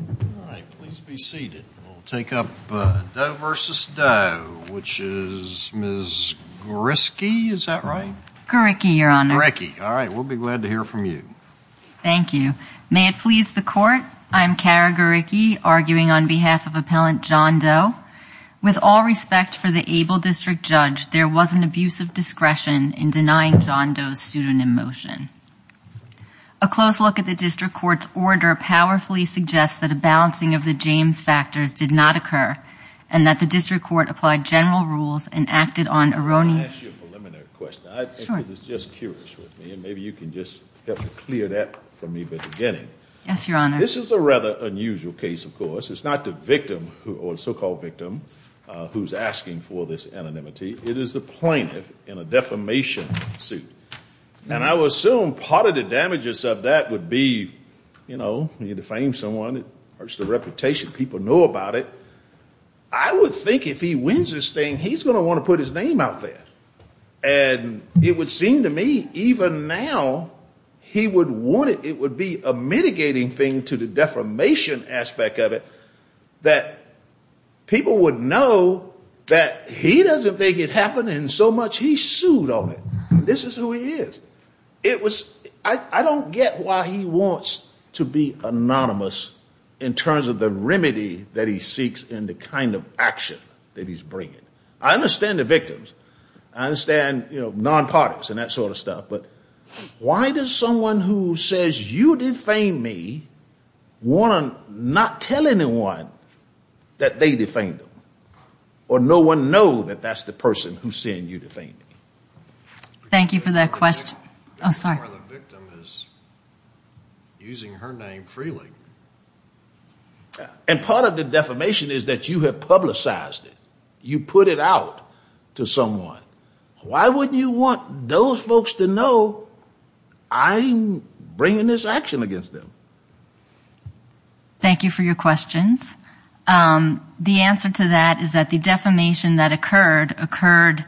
All right, please be seated. We'll take up Doe v. Doe, which is Ms. Griske, is that right? Griske, Your Honor. Griske. All right, we'll be glad to hear from you. Thank you. May it please the Court, I'm Kara Griske, arguing on behalf of Appellant John Doe. With all respect for the able District Judge, there was an abuse of discretion in denying John Doe's pseudonym motion. A close look at the District Court's order powerfully suggests that a balancing of the James factors did not occur, and that the District Court applied general rules and acted on erroneous... Let me ask you a preliminary question. Sure. Because it's just curious with me, and maybe you can just help to clear that from me at the beginning. Yes, Your Honor. This is a rather unusual case, of course. It's not the victim, or so-called victim, who's asking for this anonymity. It is the plaintiff in a defamation suit. And I would assume part of the damages of that would be, you know, you defame someone, it hurts the reputation. People know about it. I would think if he wins this thing, he's going to want to put his name out there. And it would seem to me, even now, he would want it. It would be a mitigating thing to the defamation aspect of it, that people would know that he doesn't think it happened, and so much he sued on it. This is who he is. It was... I don't get why he wants to be anonymous in terms of the remedy that he seeks and the kind of action that he's bringing. I understand the victims. I understand, you know, non-parties and that sort of stuff. But why does someone who says, you defamed me, want to not tell anyone that they defamed him? Or no one know that that's the person who's saying you defamed me? Thank you for that question. Oh, sorry. The victim is using her name freely. And part of the defamation is that you have publicized it. You put it out to someone. Why wouldn't you want those folks to know I'm bringing this action against them? Thank you for your questions. The answer to that is that the defamation that occurred, occurred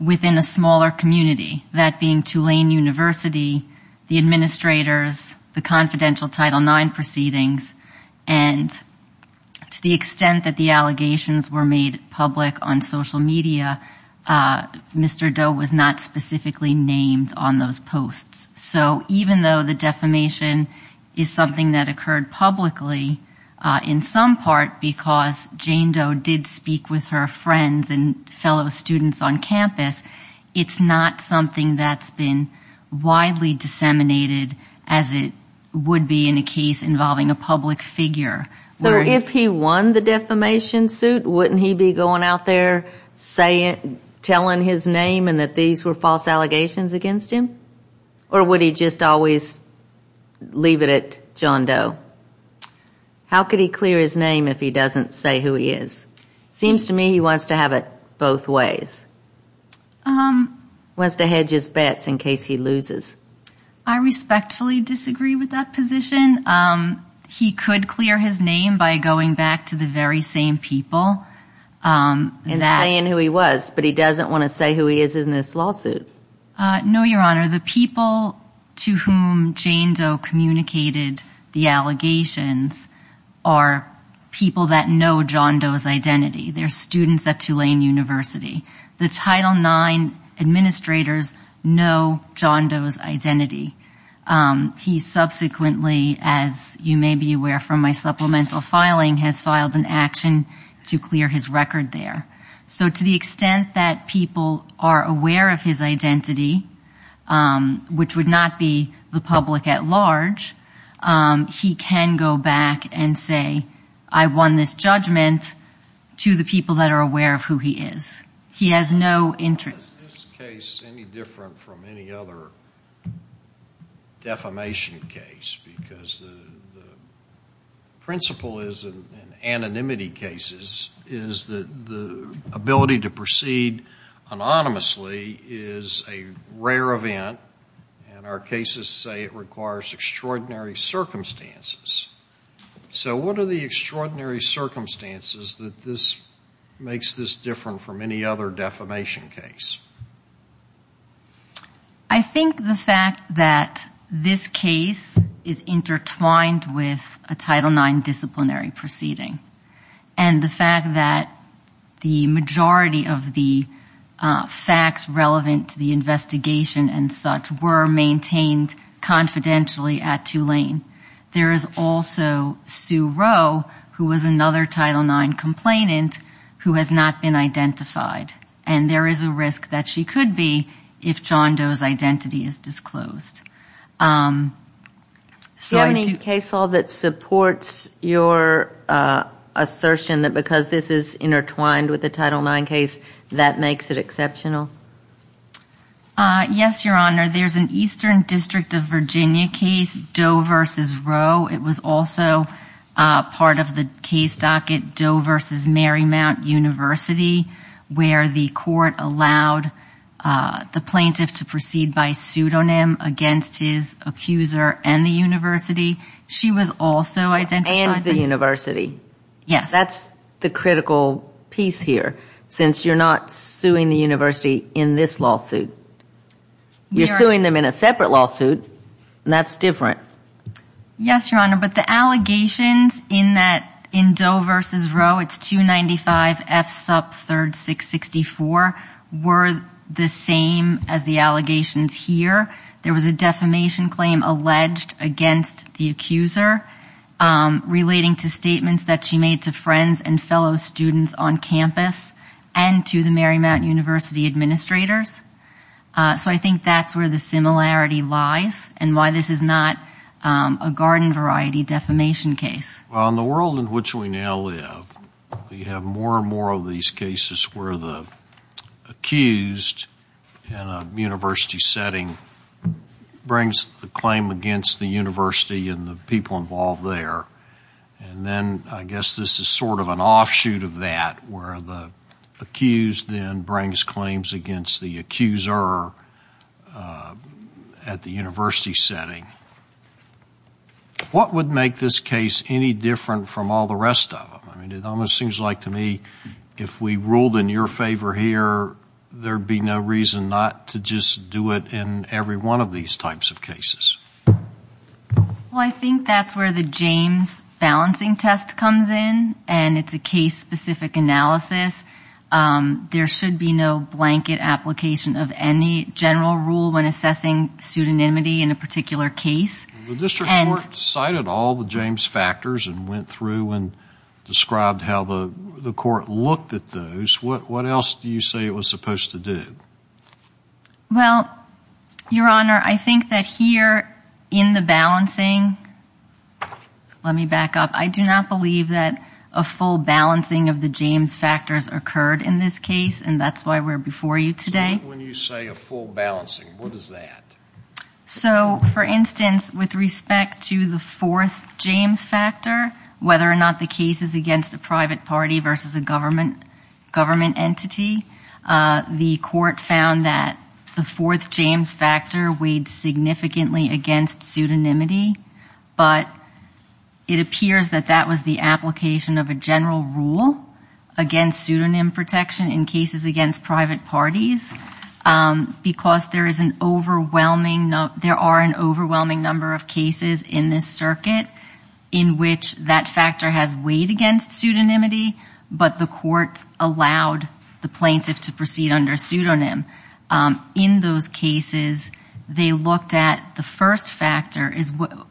within a smaller community, that being Tulane University, the administrators, the confidential Title IX proceedings, and to the extent that the allegations were made public on social media, Mr. Doe was not specifically named on those posts. So even though the defamation is something that occurred publicly, in some part, because Jane Doe did speak with her friends and fellow students on campus, it's not something that's been widely disseminated as it would be in a case involving a public figure. So if he won the defamation suit, wouldn't he be going out there telling his name and that these were false allegations against him? Or would he just always leave it at John Doe? How could he clear his name if he doesn't say who he is? It seems to me he wants to have it both ways. He wants to hedge his bets in case he loses. I respectfully disagree with that position. He could clear his name by going back to the very same people. And saying who he was, but he doesn't want to say who he is in this lawsuit. No, Your Honor. The people to whom Jane Doe communicated the allegations are people that know John Doe's identity. They're students at Tulane University. The Title IX administrators know John Doe's identity. He subsequently, as you may be aware from my supplemental filing, has filed an action to clear his record there. So to the extent that people are aware of his identity, which would not be the public at large, he can go back and say I won this judgment to the people that are aware of who he is. He has no interest. Is this case any different from any other defamation case? Because the principle is in anonymity cases is that the ability to proceed anonymously is a rare event. And our cases say it requires extraordinary circumstances. So what are the extraordinary circumstances that this makes this different from any other defamation case? I think the fact that this case is intertwined with a Title IX disciplinary proceeding and the fact that the majority of the facts relevant to the investigation and such were maintained confidentially at Tulane. There is also Sue Rowe, who was another Title IX complainant, who has not been identified. And there is a risk that she could be if John Doe's identity is disclosed. Do you have any case law that supports your assertion that because this is intertwined with a Title IX case, that makes it exceptional? Yes, Your Honor. There's an Eastern District of Virginia case, Doe versus Rowe. It was also part of the case docket, Doe versus Marymount University, where the court allowed the plaintiff to proceed by pseudonym against his accuser and the university. She was also identified. And the university. Yes. That's the critical piece here, since you're not suing the university in this lawsuit. You're suing them in a separate lawsuit, and that's different. Yes, Your Honor. But the allegations in that, in Doe versus Rowe, it's 295F sub 3664, were the same as the allegations here. There was a defamation claim alleged against the accuser relating to statements that she made to friends and fellow students on campus and to the Marymount University administrators. So I think that's where the similarity lies and why this is not a garden variety defamation case. Well, in the world in which we now live, we have more and more of these cases where the accused in a university setting brings the claim against the university and the people involved there. And then I guess this is sort of an offshoot of that, where the accused then brings claims against the accuser at the university setting. What would make this case any different from all the rest of them? I mean, it almost seems like to me if we ruled in your favor here, there'd be no reason not to just do it in every one of these types of cases. Well, I think that's where the James balancing test comes in, and it's a case-specific analysis. There should be no blanket application of any general rule when assessing pseudonymity in a particular case. The district court cited all the James factors and went through and described how the court looked at those. What else do you say it was supposed to do? Well, Your Honor, I think that here in the balancing, let me back up, I do not believe that a full balancing of the James factors occurred in this case, and that's why we're before you today. When you say a full balancing, what is that? So, for instance, with respect to the fourth James factor, whether or not the case is against a private party versus a government entity, the court found that the fourth James factor weighed significantly against pseudonymity, but it appears that that was the application of a general rule against pseudonym protection in cases against private parties, because there are an overwhelming number of cases in this circuit in which that factor has weighed against pseudonymity, but the court allowed the plaintiff to proceed under pseudonym. In those cases, they looked at the first factor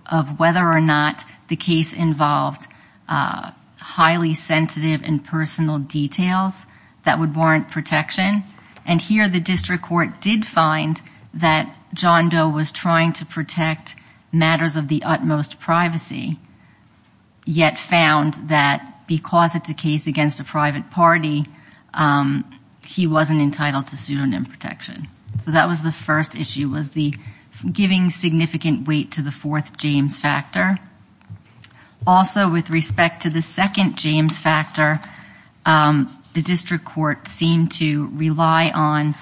of whether or not the case involved highly sensitive and personal details that would warrant protection, and here the district court did find that John Doe was trying to protect matters of the utmost privacy, yet found that because it's a case against a private party, he wasn't entitled to pseudonym protection. So that was the first issue, was the giving significant weight to the fourth James factor. Also, with respect to the second James factor, the district court seemed to rely on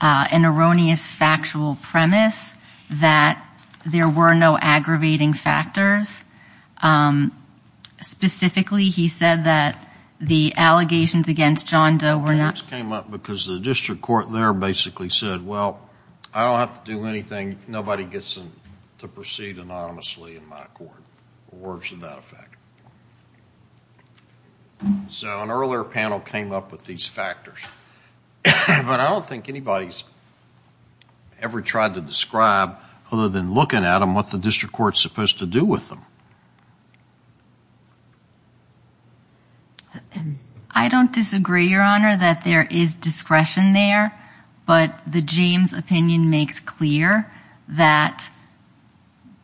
an erroneous factual premise that there were no aggravating factors. Specifically, he said that the allegations against John Doe were not- Came up because the district court there basically said, Well, I don't have to do anything. Nobody gets to proceed anonymously in my court, or worse than that effect. So an earlier panel came up with these factors, but I don't think anybody's ever tried to describe other than looking at them what the district court's supposed to do with them. I don't disagree, Your Honor, that there is discretion there, but the James opinion makes clear that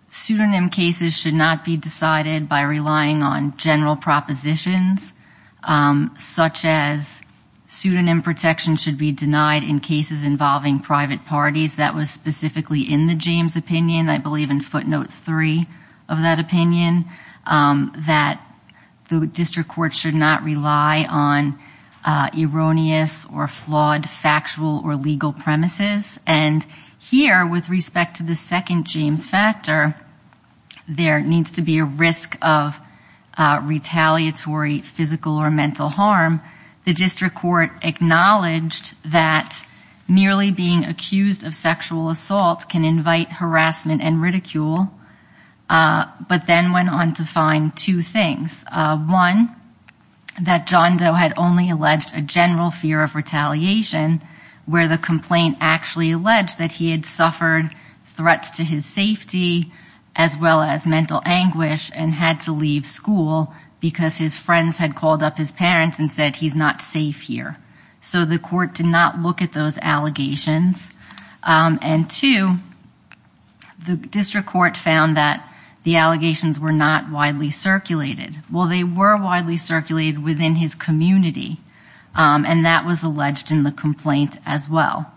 pseudonym cases should not be decided by relying on general propositions, such as pseudonym protection should be denied in cases involving private parties. That was specifically in the James opinion. I believe in footnote three of that opinion, that the district court should not rely on erroneous or flawed factual or legal premises. And here, with respect to the second James factor, there needs to be a risk of retaliatory physical or mental harm. The district court acknowledged that merely being accused of sexual assault can invite harassment and ridicule, but then went on to find two things. One, that John Doe had only alleged a general fear of retaliation, where the complaint actually alleged that he had suffered threats to his safety as well as mental anguish and had to leave school because his friends had called up his parents and said he's not safe here. So the court did not look at those allegations. And two, the district court found that the allegations were not widely circulated. Well, they were widely circulated within his community, and that was alleged in the complaint as well.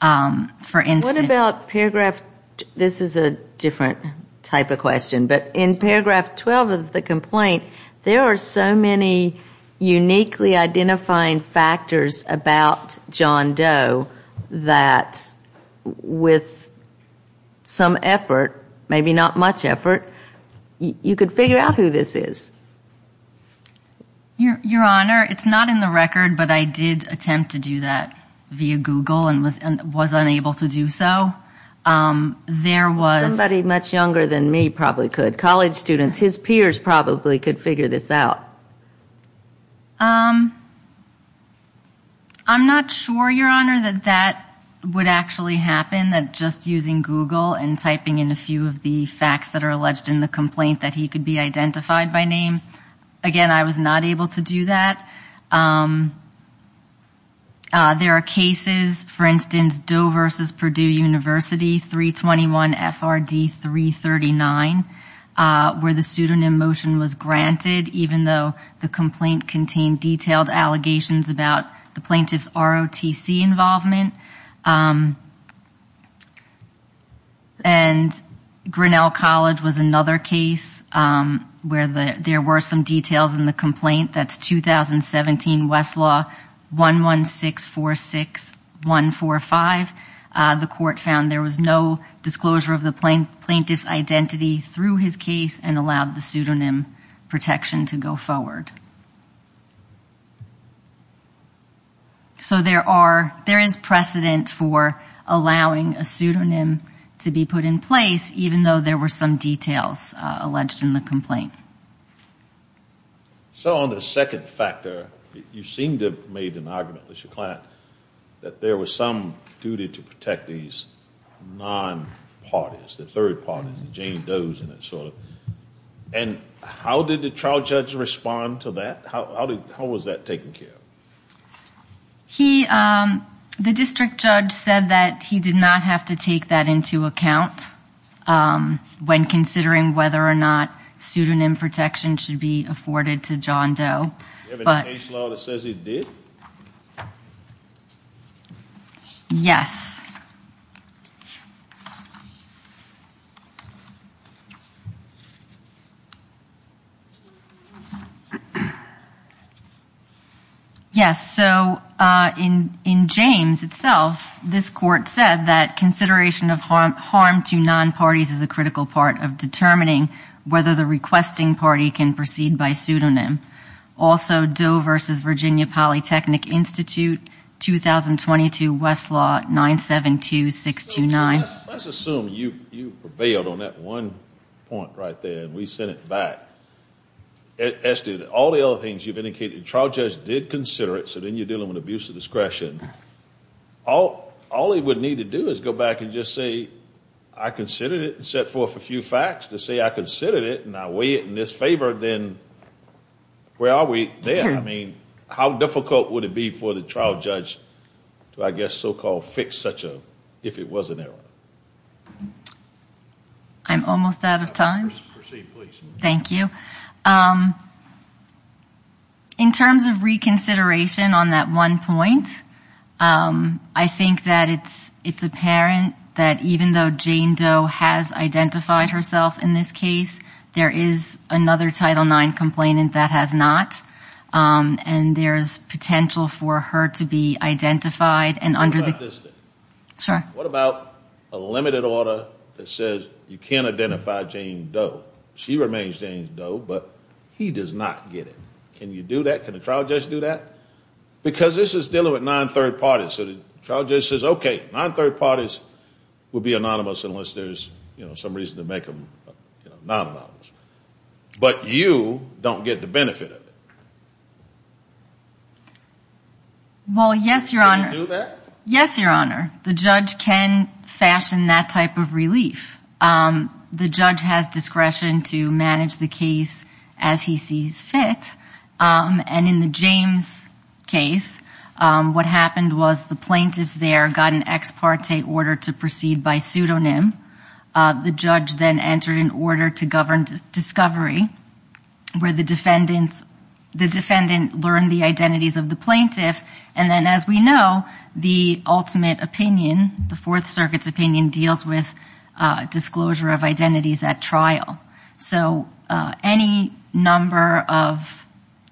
What about paragraph, this is a different type of question, but in paragraph 12 of the complaint, there are so many uniquely identifying factors about John Doe that with some effort, maybe not much effort, you could figure out who this is. Your Honor, it's not in the record, but I did attempt to do that via Google and was unable to do so. Somebody much younger than me probably could, college students, his peers probably could figure this out. I'm not sure, Your Honor, that that would actually happen, that just using Google and typing in a few of the facts that are alleged in the complaint that he could be identified by name. Again, I was not able to do that. There are cases, for instance, Doe versus Purdue University, 321 FRD 339, where the pseudonym motion was granted even though the complaint contained detailed allegations about the plaintiff's ROTC involvement. And Grinnell College was another case where there were some details in the complaint. That's 2017 Westlaw 11646145. The court found there was no disclosure of the plaintiff's identity through his case and allowed the pseudonym protection to go forward. So there are, there is precedent for allowing a pseudonym to be put in place even though there were some details alleged in the complaint. So on the second factor, you seem to have made an argument with your client that there was some duty to protect these non-parties, the third parties, the Jane Does and that sort of thing. And how did the trial judge respond to that? How was that taken care of? He, the district judge said that he did not have to take that into account when considering whether or not pseudonym protection should be afforded to John Doe. Do you have any case law that says he did? Yes. Yes, so in James itself, this court said that consideration of harm to non-parties is a critical part of determining whether the requesting party can proceed by pseudonym. Also, Doe v. Virginia Polytechnic Institute, 2022 Westlaw 972629. Let's assume you prevailed on that one point right there and we sent it back. All the other things you've indicated, the trial judge did consider it, so then you're dealing with abuse of discretion. All he would need to do is go back and just say, I considered it and set forth a few facts to say I considered it and I weigh it in his favor, then where are we then? How difficult would it be for the trial judge to, I guess, so-called fix such a, if it was an error? I'm almost out of time. Thank you. In terms of reconsideration on that one point, I think that it's apparent that even though Jane Doe has identified herself in this case, there is another Title IX complainant that has not, and there's potential for her to be identified. What about a limited order that says you can't identify Jane Doe? She remains Jane Doe, but he does not get it. Can you do that? Can the trial judge do that? Because this is dealing with non-third parties. So the trial judge says, okay, non-third parties will be anonymous unless there's some reason to make them non-anonymous. But you don't get the benefit of it. Well, yes, Your Honor. Can you do that? Yes, Your Honor. The judge can fashion that type of relief. The judge has discretion to manage the case as he sees fit. And in the James case, what happened was the plaintiffs there got an ex parte order to proceed by pseudonym. The judge then entered an order to govern discovery where the defendant learned the identities of the plaintiff. And then, as we know, the ultimate opinion, the Fourth Circuit's opinion, deals with disclosure of identities at trial. So any number of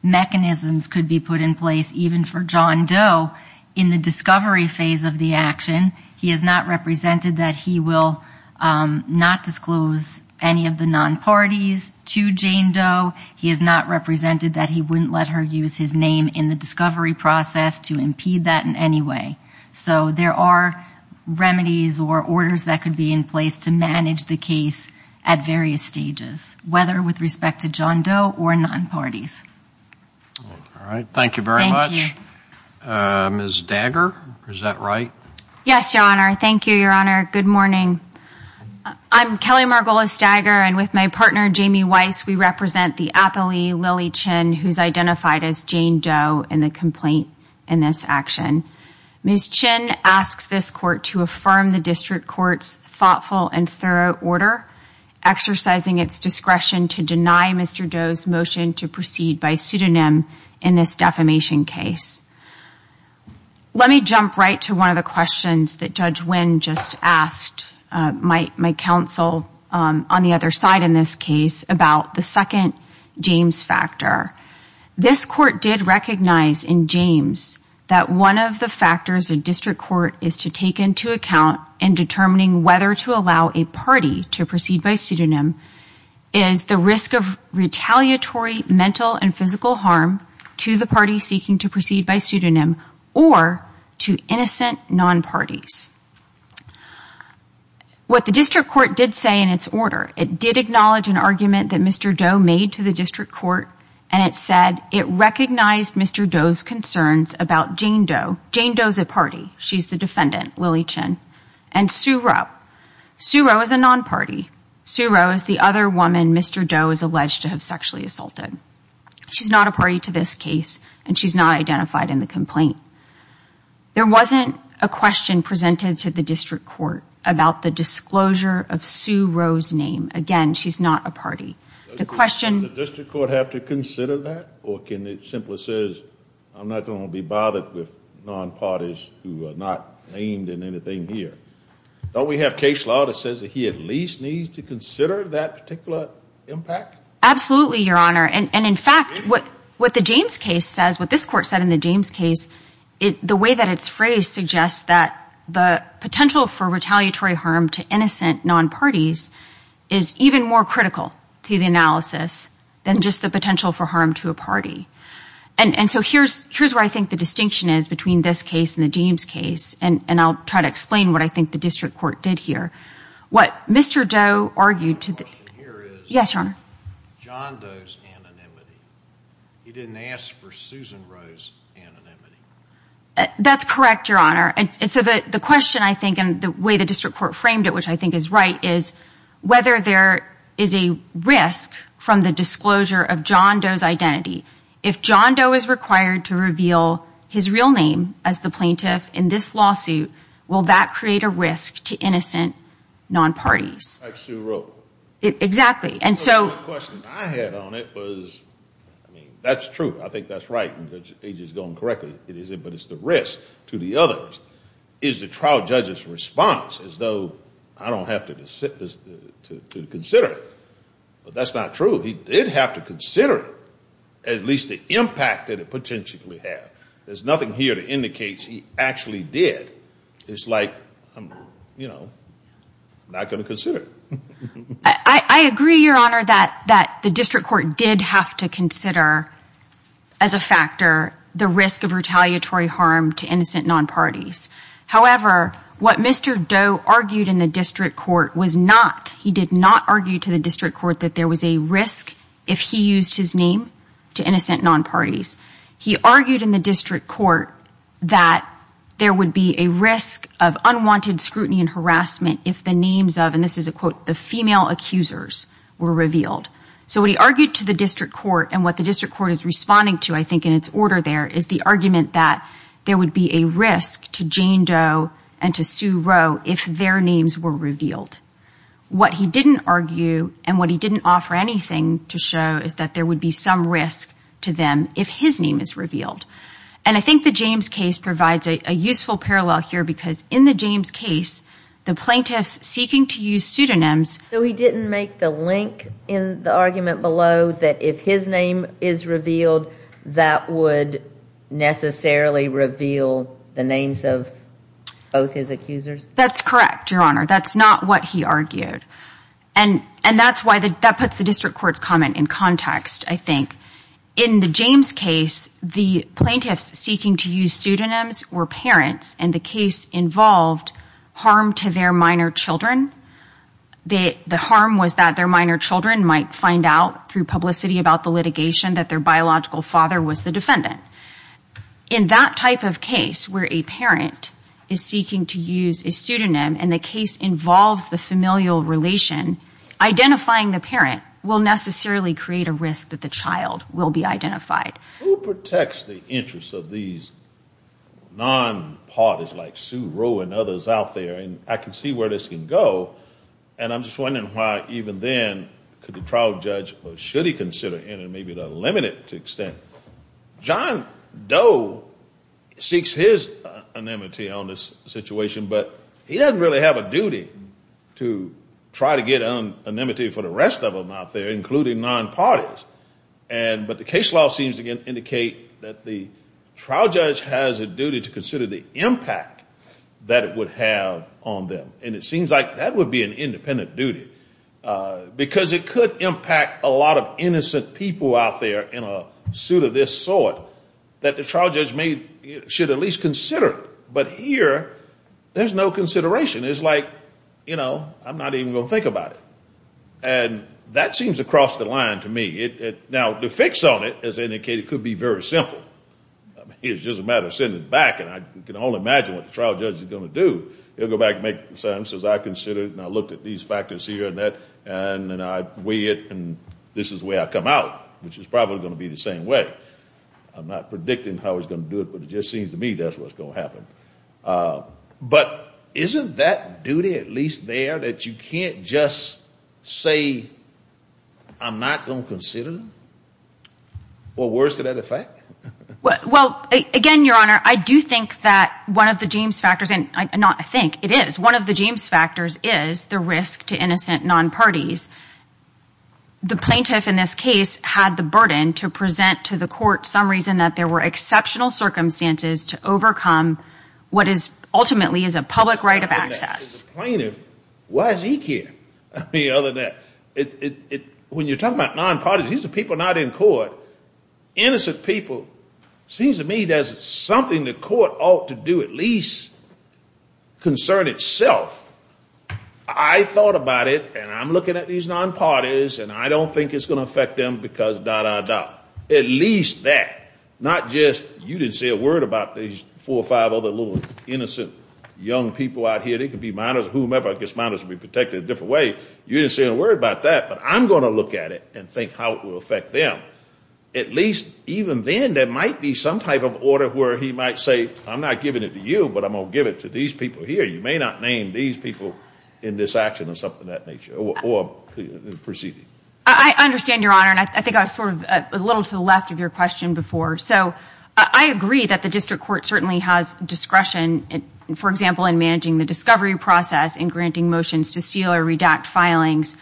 mechanisms could be put in place, even for John Doe, in the discovery phase of the action. He is not represented that he will not disclose any of the non-parties to Jane Doe. He is not represented that he wouldn't let her use his name in the discovery process to impede that in any way. So there are remedies or orders that could be in place to manage the case at various stages, whether with respect to John Doe or non-parties. All right. Thank you very much. Thank you. Ms. Dagger, is that right? Yes, Your Honor. Thank you, Your Honor. Good morning. I'm Kelly Margolis Dagger, and with my partner, Jamie Weiss, we represent the appellee, Lily Chin, who is identified as Jane Doe in the complaint in this action. Ms. Chin asks this court to affirm the district court's thoughtful and thorough order, exercising its discretion to deny Mr. Doe's motion to proceed by pseudonym in this defamation case. Let me jump right to one of the questions that Judge Winn just asked my counsel on the other side in this case about the second James factor. This court did recognize in James that one of the factors a district court is to take into account in determining whether to allow a party to proceed by pseudonym is the risk of retaliatory mental and physical harm to the party seeking to proceed by pseudonym or to innocent non-parties. What the district court did say in its order, it did acknowledge an argument that Mr. Doe made to the district court, and it said it recognized Mr. Doe's concerns about Jane Doe. Jane Doe's a party. She's the defendant, Lily Chin, and Sue Roe. Sue Roe is a non-party. Sue Roe is the other woman Mr. Doe is alleged to have sexually assaulted. She's not a party to this case, and she's not identified in the complaint. There wasn't a question presented to the district court about the disclosure of Sue Roe's name. Again, she's not a party. Does the district court have to consider that, or can it simply say, I'm not going to be bothered with non-parties who are not named in anything here? Don't we have case law that says that he at least needs to consider that particular impact? Absolutely, Your Honor. And, in fact, what the James case says, what this court said in the James case, the way that it's phrased suggests that the potential for retaliatory harm to innocent non-parties is even more critical to the analysis than just the potential for harm to a party. And so here's where I think the distinction is between this case and the James case, and I'll try to explain what I think the district court did here. What Mr. Doe argued to the- My question here is- Yes, Your Honor. John Doe's anonymity. He didn't ask for Susan Roe's anonymity. That's correct, Your Honor. And so the question, I think, and the way the district court framed it, which I think is right, is whether there is a risk from the disclosure of John Doe's identity. If John Doe is required to reveal his real name as the plaintiff in this lawsuit, will that create a risk to innocent non-parties? Like Sue Roe. Exactly. And so- The question I had on it was, I mean, that's true. I think that's right, and he's just going correctly. It is, but it's the risk to the others. Is the trial judge's response as though I don't have to consider it? But that's not true. He did have to consider it, at least the impact that it potentially had. There's nothing here that indicates he actually did. It's like, you know, not going to consider it. I agree, Your Honor, that the district court did have to consider, as a factor, the risk of retaliatory harm to innocent non-parties. However, what Mr. Doe argued in the district court was not, he did not argue to the district court that there was a risk if he used his name to innocent non-parties. He argued in the district court that there would be a risk of unwanted scrutiny and harassment if the names of, and this is a quote, the female accusers were revealed. So what he argued to the district court and what the district court is responding to, I think, in its order there, is the argument that there would be a risk to Jane Doe and to Sue Roe if their names were revealed. What he didn't argue and what he didn't offer anything to show is that there would be some risk to them if his name is revealed. And I think the James case provides a useful parallel here because in the James case, the plaintiffs seeking to use pseudonyms. So he didn't make the link in the argument below that if his name is revealed, that would necessarily reveal the names of both his accusers? That's correct, Your Honor. That's not what he argued. And that's why, that puts the district court's comment in context, I think. In the James case, the plaintiffs seeking to use pseudonyms were parents and the case involved harm to their minor children. The harm was that their minor children might find out through publicity about the litigation that their biological father was the defendant. In that type of case where a parent is seeking to use a pseudonym and the case involves the familial relation, identifying the parent will necessarily create a risk that the child will be identified. Who protects the interests of these non-parties like Sue Roe and others out there? And I can see where this can go. And I'm just wondering why even then could the trial judge or should he consider it in a maybe limited extent? John Doe seeks his anemone on this situation, but he doesn't really have a duty to try to get an anemone for the rest of them out there, including non-parties. But the case law seems to indicate that the trial judge has a duty to consider the impact that it would have on them. And it seems like that would be an independent duty because it could impact a lot of innocent people out there in a suit of this sort that the trial judge should at least consider. But here, there's no consideration. It's like, you know, I'm not even going to think about it. And that seems across the line to me. Now, the fix on it, as indicated, could be very simple. I mean, it's just a matter of sending it back and I can only imagine what the trial judge is going to do. He'll go back and make a sense as I consider it and I look at these factors here and that and I weigh it and this is the way I come out, which is probably going to be the same way. I'm not predicting how he's going to do it, but it just seems to me that's what's going to happen. But isn't that duty at least there that you can't just say, I'm not going to consider them? Or worse to that effect? Well, again, Your Honor, I do think that one of the James factors and not I think it is one of the James factors is the risk to innocent non-parties. The plaintiff in this case had the burden to present to the court some reason that there were exceptional circumstances to overcome what is ultimately is a public right of access. The plaintiff, why does he care? I mean, other than that, when you're talking about non-parties, these are people not in court. Innocent people, it seems to me there's something the court ought to do at least concern itself. I thought about it and I'm looking at these non-parties and I don't think it's going to affect them because da, da, da, at least that. Not just you didn't say a word about these four or five other little innocent young people out here. They could be minors or whomever. I guess minors would be protected a different way. You didn't say a word about that, but I'm going to look at it and think how it will affect them. At least even then there might be some type of order where he might say, I'm not giving it to you, but I'm going to give it to these people here. You may not name these people in this action or something of that nature or proceeding. I understand, Your Honor, and I think I was sort of a little to the left of your question before. So I agree that the district court certainly has discretion, for example, in managing the discovery process and granting motions to seal or redact filings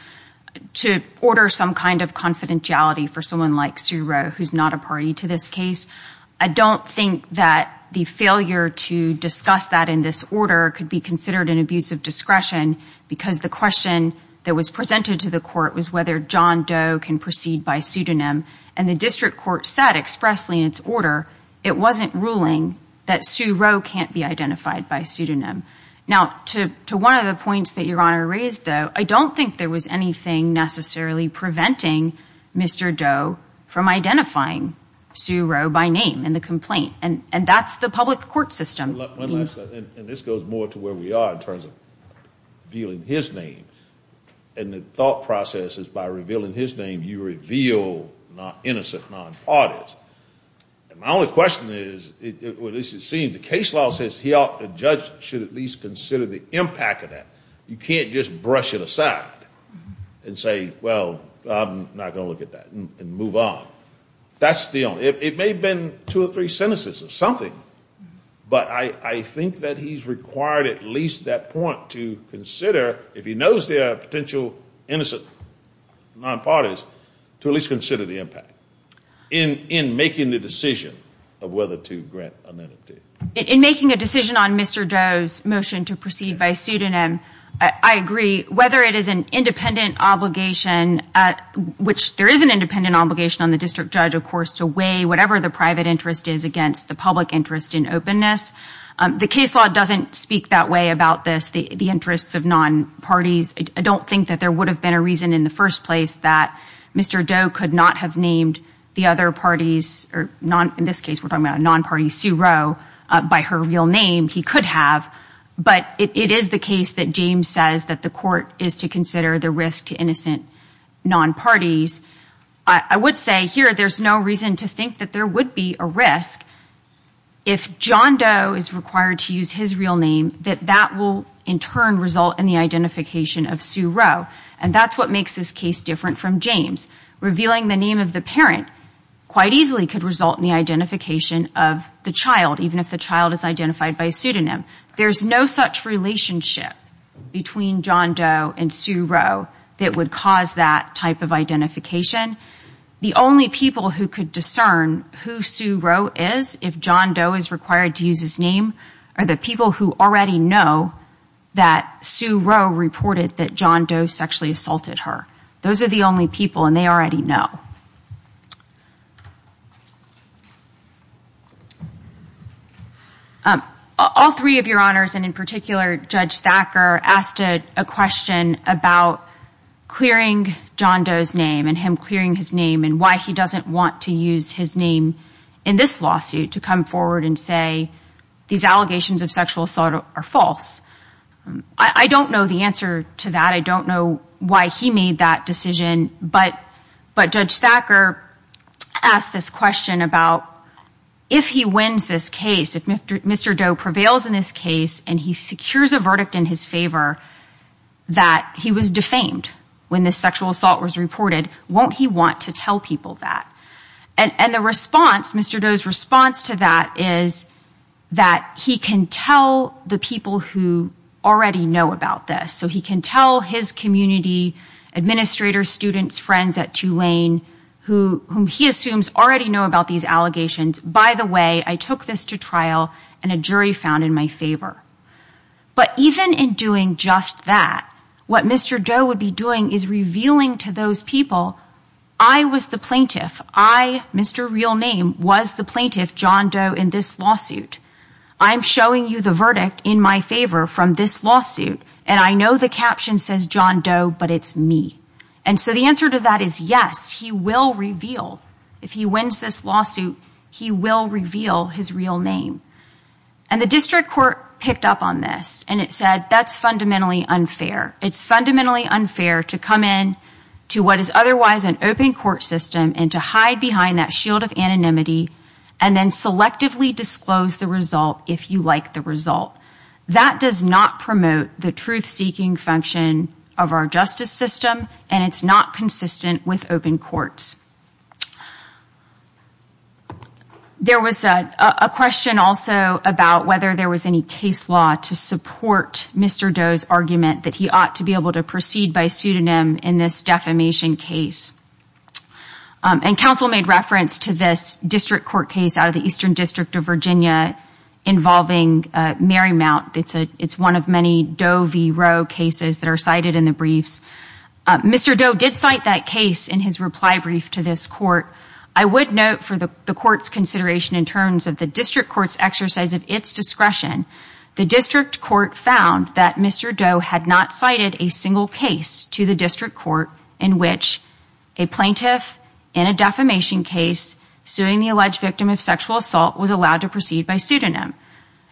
to order some kind of confidentiality for someone like Sue Roe who's not a party to this case. I don't think that the failure to discuss that in this order could be considered an abuse of discretion because the question that was presented to the court was whether John Doe can proceed by pseudonym. And the district court said expressly in its order it wasn't ruling that Sue Roe can't be identified by pseudonym. Now, to one of the points that Your Honor raised, though, I don't think there was anything necessarily preventing Mr. Doe from identifying Sue Roe by name in the complaint. And that's the public court system. One last thing, and this goes more to where we are in terms of revealing his name, and the thought process is by revealing his name you reveal innocent non-parties. And my only question is, at least it seems, the case law says the judge should at least consider the impact of that. You can't just brush it aside and say, well, I'm not going to look at that and move on. That's the only, it may have been two or three sentences or something, but I think that he's required at least that point to consider, if he knows there are potential innocent non-parties, to at least consider the impact in making the decision of whether to grant an entity. In making a decision on Mr. Doe's motion to proceed by pseudonym, I agree, whether it is an independent obligation, which there is an independent obligation on the district judge, of course, to weigh whatever the private interest is against the public interest in openness. The case law doesn't speak that way about this, the interests of non-parties. I don't think that there would have been a reason in the first place that Mr. Doe could not have named the other parties, or in this case we're talking about a non-party, Sue Roe, by her real name. He could have, but it is the case that James says that the court is to consider the risk to innocent non-parties. I would say here there's no reason to think that there would be a risk. If John Doe is required to use his real name, that that will in turn result in the identification of Sue Roe, and that's what makes this case different from James. Revealing the name of the parent quite easily could result in the identification of the child, even if the child is identified by a pseudonym. There's no such relationship between John Doe and Sue Roe that would cause that type of identification. The only people who could discern who Sue Roe is, if John Doe is required to use his name, are the people who already know that Sue Roe reported that John Doe sexually assaulted her. Those are the only people, and they already know. All three of your honors, and in particular Judge Thacker, asked a question about clearing John Doe's name and him clearing his name and why he doesn't want to use his name in this lawsuit to come forward and say these allegations of sexual assault are false. I don't know the answer to that. I don't know why he made that decision, but Judge Thacker asked this question about if he wins this case, if Mr. Doe prevails in this case and he secures a verdict in his favor that he was defamed when this sexual assault was reported, won't he want to tell people that? And Mr. Doe's response to that is that he can tell the people who already know about this. So he can tell his community, administrators, students, friends at Tulane, whom he assumes already know about these allegations, by the way, I took this to trial and a jury found in my favor. But even in doing just that, what Mr. Doe would be doing is revealing to those people, I was the plaintiff. I, Mr. Real Name, was the plaintiff, John Doe, in this lawsuit. I'm showing you the verdict in my favor from this lawsuit. And I know the caption says John Doe, but it's me. And so the answer to that is yes, he will reveal. If he wins this lawsuit, he will reveal his real name. And the district court picked up on this and it said that's fundamentally unfair. It's fundamentally unfair to come in to what is otherwise an open court system and to hide behind that shield of anonymity and then selectively disclose the result if you like the result. That does not promote the truth-seeking function of our justice system and it's not consistent with open courts. There was a question also about whether there was any case law to support Mr. Doe's argument that he ought to be able to proceed by pseudonym in this defamation case. And counsel made reference to this district court case out of the Eastern District of Virginia involving Marymount. It's one of many Doe v. Roe cases that are cited in the briefs. Mr. Doe did cite that case in his reply brief to this court. I would note for the court's consideration in terms of the district court's exercise of its discretion, the district court found that Mr. Doe had not cited a single case to the district court in which a plaintiff in a defamation case suing the alleged victim of sexual assault was allowed to proceed by pseudonym.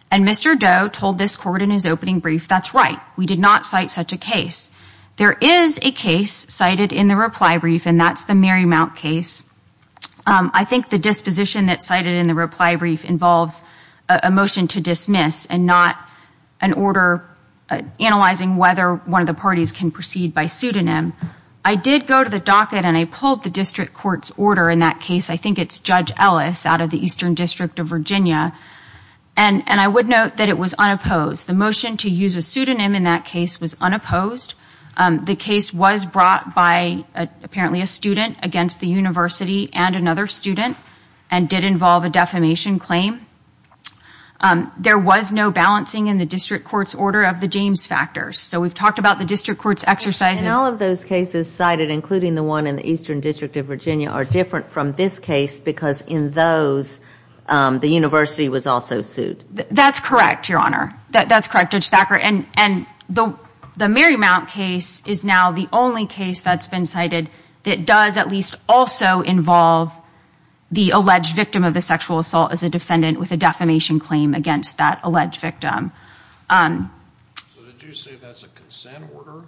And Mr. Doe told this court in his opening brief, that's right, we did not cite such a case. There is a case cited in the reply brief and that's the Marymount case. I think the disposition that's cited in the reply brief involves a motion to dismiss and not an order analyzing whether one of the parties can proceed by pseudonym. I did go to the docket and I pulled the district court's order in that case. I think it's Judge Ellis out of the Eastern District of Virginia. And I would note that it was unopposed. The motion to use a pseudonym in that case was unopposed. The case was brought by apparently a student against the university and another student and did involve a defamation claim. There was no balancing in the district court's order of the James factors. So we've talked about the district court's exercise. And all of those cases cited, including the one in the Eastern District of Virginia, are different from this case because in those, the university was also sued. That's correct, Your Honor. That's correct, Judge Thacker. And the Marymount case is now the only case that's been cited that does at least also involve the alleged victim of the sexual assault as a defendant with a defamation claim against that alleged victim. So did you say that's a consent order?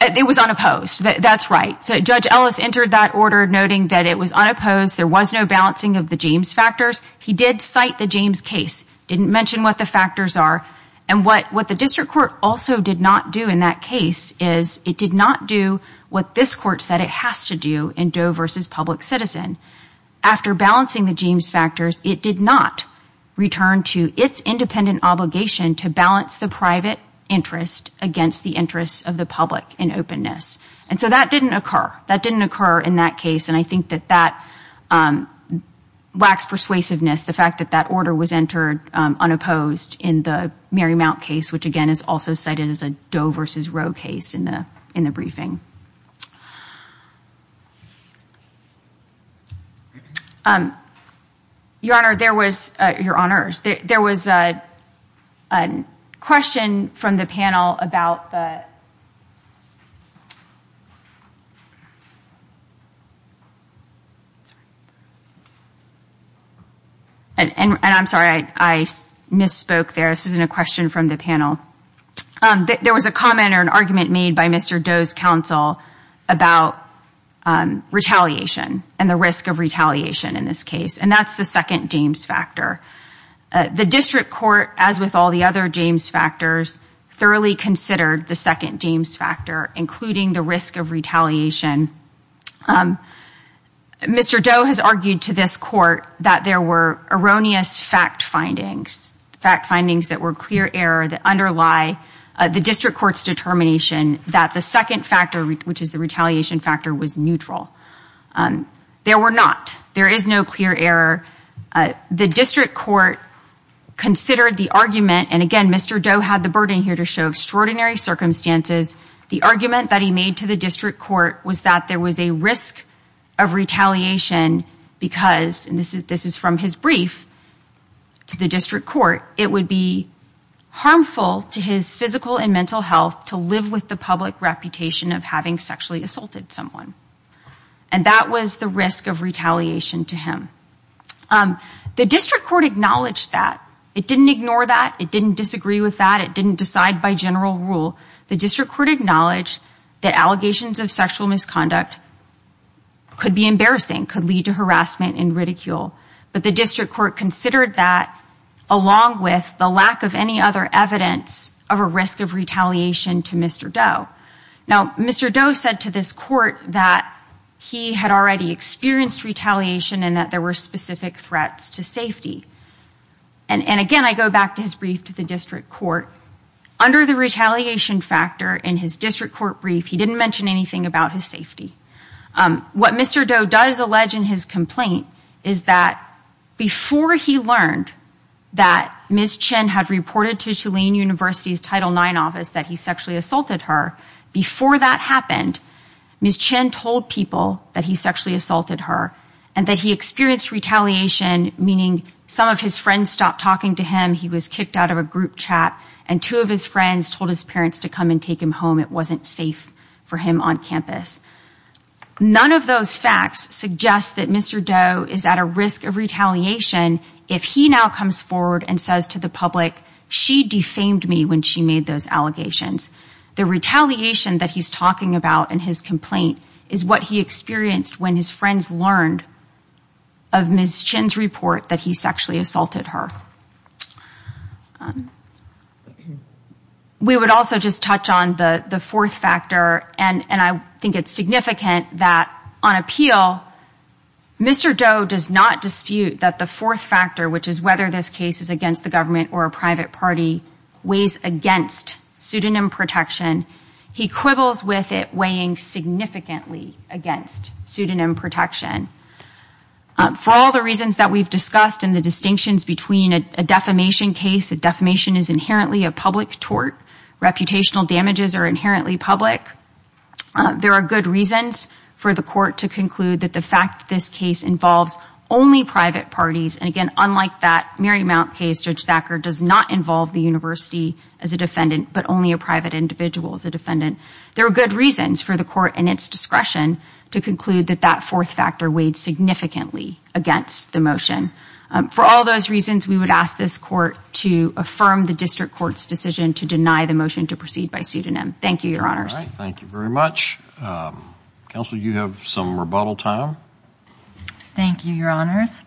It was unopposed. That's right. So Judge Ellis entered that order noting that it was unopposed. There was no balancing of the James factors. He did cite the James case, didn't mention what the factors are and what the district court also did not do in that case is it did not do what this court said it has to do in Doe v. Public Citizen. After balancing the James factors, it did not return to its independent obligation to balance the private interest against the interests of the public in openness. And so that didn't occur. That didn't occur in that case. And I think that that lacks persuasiveness, the fact that that order was entered unopposed in the Marymount case, which again is also cited as a Doe v. Roe case in the briefing. Your Honor, there was a question from the panel about the – and I'm sorry, I misspoke there. This isn't a question from the panel. There was a comment or an argument made by Mr. Doe's counsel about retaliation and the risk of retaliation in this case, and that's the second James factor. The district court, as with all the other James factors, thoroughly considered the second James factor, including the risk of retaliation. Mr. Doe has argued to this court that there were erroneous fact findings, fact findings that were clear error that underlie the district court's determination that the second factor, which is the retaliation factor, was neutral. There were not. There is no clear error. The district court considered the argument – and again, Mr. Doe had the burden here to show extraordinary circumstances. The argument that he made to the district court was that there was a risk of retaliation because – and this is from his brief to the district court – it would be harmful to his physical and mental health to live with the public reputation of having sexually assaulted someone. And that was the risk of retaliation to him. The district court acknowledged that. It didn't ignore that. It didn't disagree with that. It didn't decide by general rule. The district court acknowledged that allegations of sexual misconduct could be embarrassing, could lead to harassment and ridicule. But the district court considered that along with the lack of any other evidence of a risk of retaliation to Mr. Doe. Now, Mr. Doe said to this court that he had already experienced retaliation and that there were specific threats to safety. And again, I go back to his brief to the district court. Under the retaliation factor in his district court brief, he didn't mention anything about his safety. What Mr. Doe does allege in his complaint is that before he learned that Ms. Chen had reported to Tulane University's Title IX office that he sexually assaulted her, before that happened, Ms. Chen told people that he sexually assaulted her and that he experienced retaliation, meaning some of his friends stopped talking to him, he was kicked out of a group chat, and two of his friends told his parents to come and take him home. It wasn't safe for him on campus. None of those facts suggest that Mr. Doe is at a risk of retaliation if he now comes forward and says to the public, she defamed me when she made those allegations. The retaliation that he's talking about in his complaint is what he experienced when his friends learned of Ms. Chen's report that he sexually assaulted her. We would also just touch on the fourth factor, and I think it's significant that on appeal, Mr. Doe does not dispute that the fourth factor, which is whether this case is against the government or a private party, weighs against pseudonym protection. He quibbles with it weighing significantly against pseudonym protection. For all the reasons that we've discussed and the distinctions between a defamation case, a defamation is inherently a public tort. Reputational damages are inherently public. There are good reasons for the court to conclude that the fact that this case involves only private parties, and again, unlike that Marymount case, Judge Thacker does not involve the university as a defendant, but only a private individual as a defendant. There are good reasons for the court and its discretion to conclude that that fourth factor weighed significantly against the motion. For all those reasons, we would ask this court to affirm the district court's decision to deny the motion to proceed by pseudonym. Thank you, Your Honors. Thank you very much. Counsel, you have some rebuttal time. Thank you, Your Honors.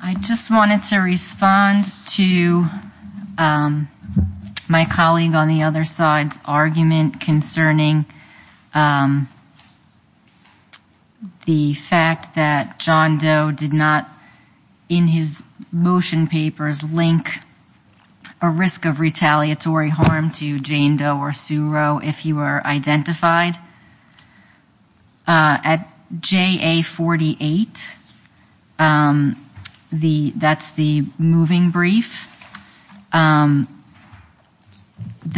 I just wanted to respond to my colleague on the other side's argument concerning the fact that John Doe did not, in his motion papers, link a risk of retaliatory harm to Jane Doe or Sue Roe if he were identified. At JA48, that's the moving brief, the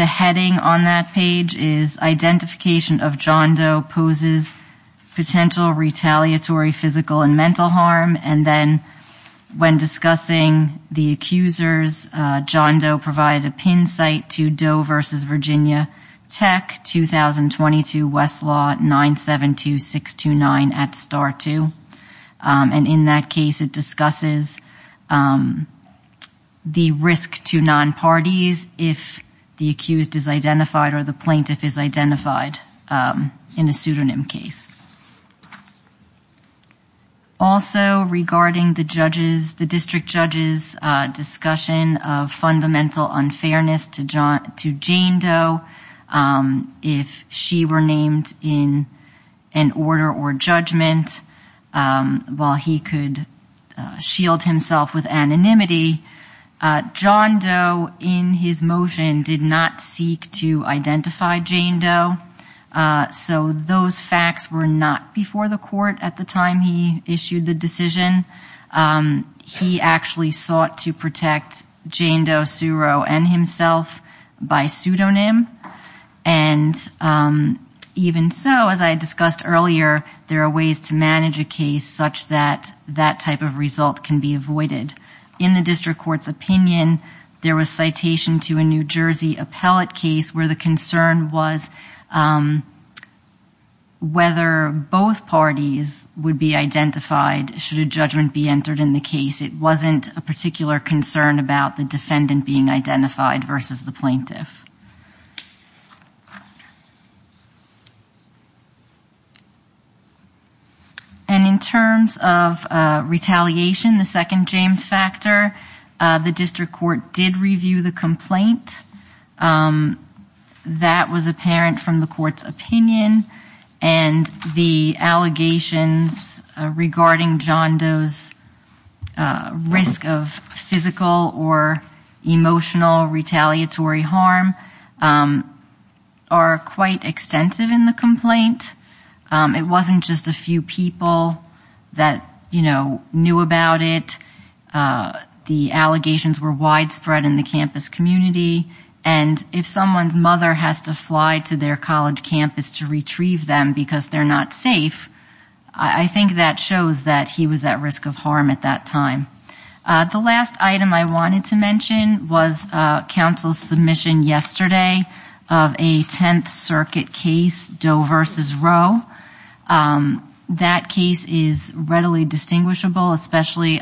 heading on that page is Identification of John Doe Poses Potential Retaliatory Physical and Mental Harm, and then when discussing the accusers, John Doe provided a pin site to Doe v. Virginia Tech, 2022 Westlaw 972629 at Star 2, and in that case it discusses the risk to non-parties if the accused is identified or the plaintiff is identified in a pseudonym case. Also, regarding the district judge's discussion of fundamental unfairness to Jane Doe, if she were named in an order or judgment while he could shield himself with anonymity, John Doe, in his motion, did not seek to identify Jane Doe, so those facts were not before the court at the time he issued the decision. He actually sought to protect Jane Doe, Sue Roe, and himself by pseudonym, and even so, as I discussed earlier, there are ways to manage a case such that that type of result can be avoided. In the district court's opinion, there was citation to a New Jersey appellate case where the concern was whether both parties would be identified should a judgment be entered in the case. It wasn't a particular concern about the defendant being identified versus the plaintiff. And in terms of retaliation, the second James factor, the district court did review the complaint. That was apparent from the court's opinion, and the allegations regarding John Doe's risk of physical or emotional retaliatory harm are quite extensive in the complaint. It wasn't just a few people that, you know, knew about it. The allegations were widespread in the campus community, and if someone's mother has to fly to their college campus to retrieve them because they're not safe, I think that shows that he was at risk of harm at that time. The last item I wanted to mention was counsel's submission yesterday of a Tenth Circuit case, Doe versus Roe. That case is readily distinguishable, especially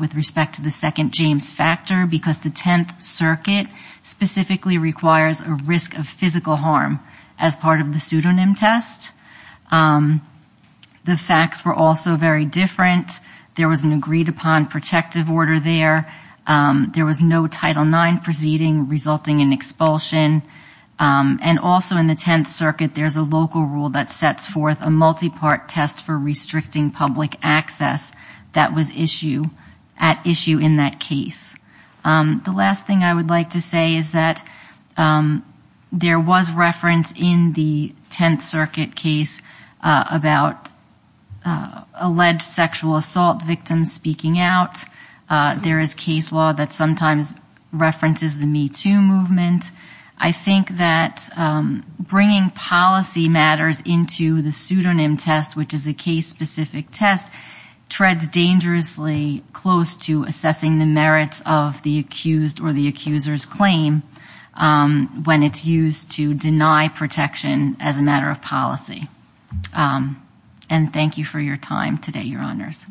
with respect to the second James factor, because the Tenth Circuit specifically requires a risk of physical harm as part of the pseudonym test. The facts were also very different. There was an agreed-upon protective order there. There was no Title IX proceeding resulting in expulsion. And also in the Tenth Circuit, there's a local rule that sets forth a multi-part test for restricting public access that was at issue in that case. The last thing I would like to say is that there was reference in the Tenth Circuit case about alleged sexual assault victims speaking out. There is case law that sometimes references the Me Too movement. I think that bringing policy matters into the pseudonym test, which is a case-specific test, treads dangerously close to assessing the merits of the accused or the accuser's claim when it's used to deny protection as a matter of policy. And thank you for your time today, Your Honors.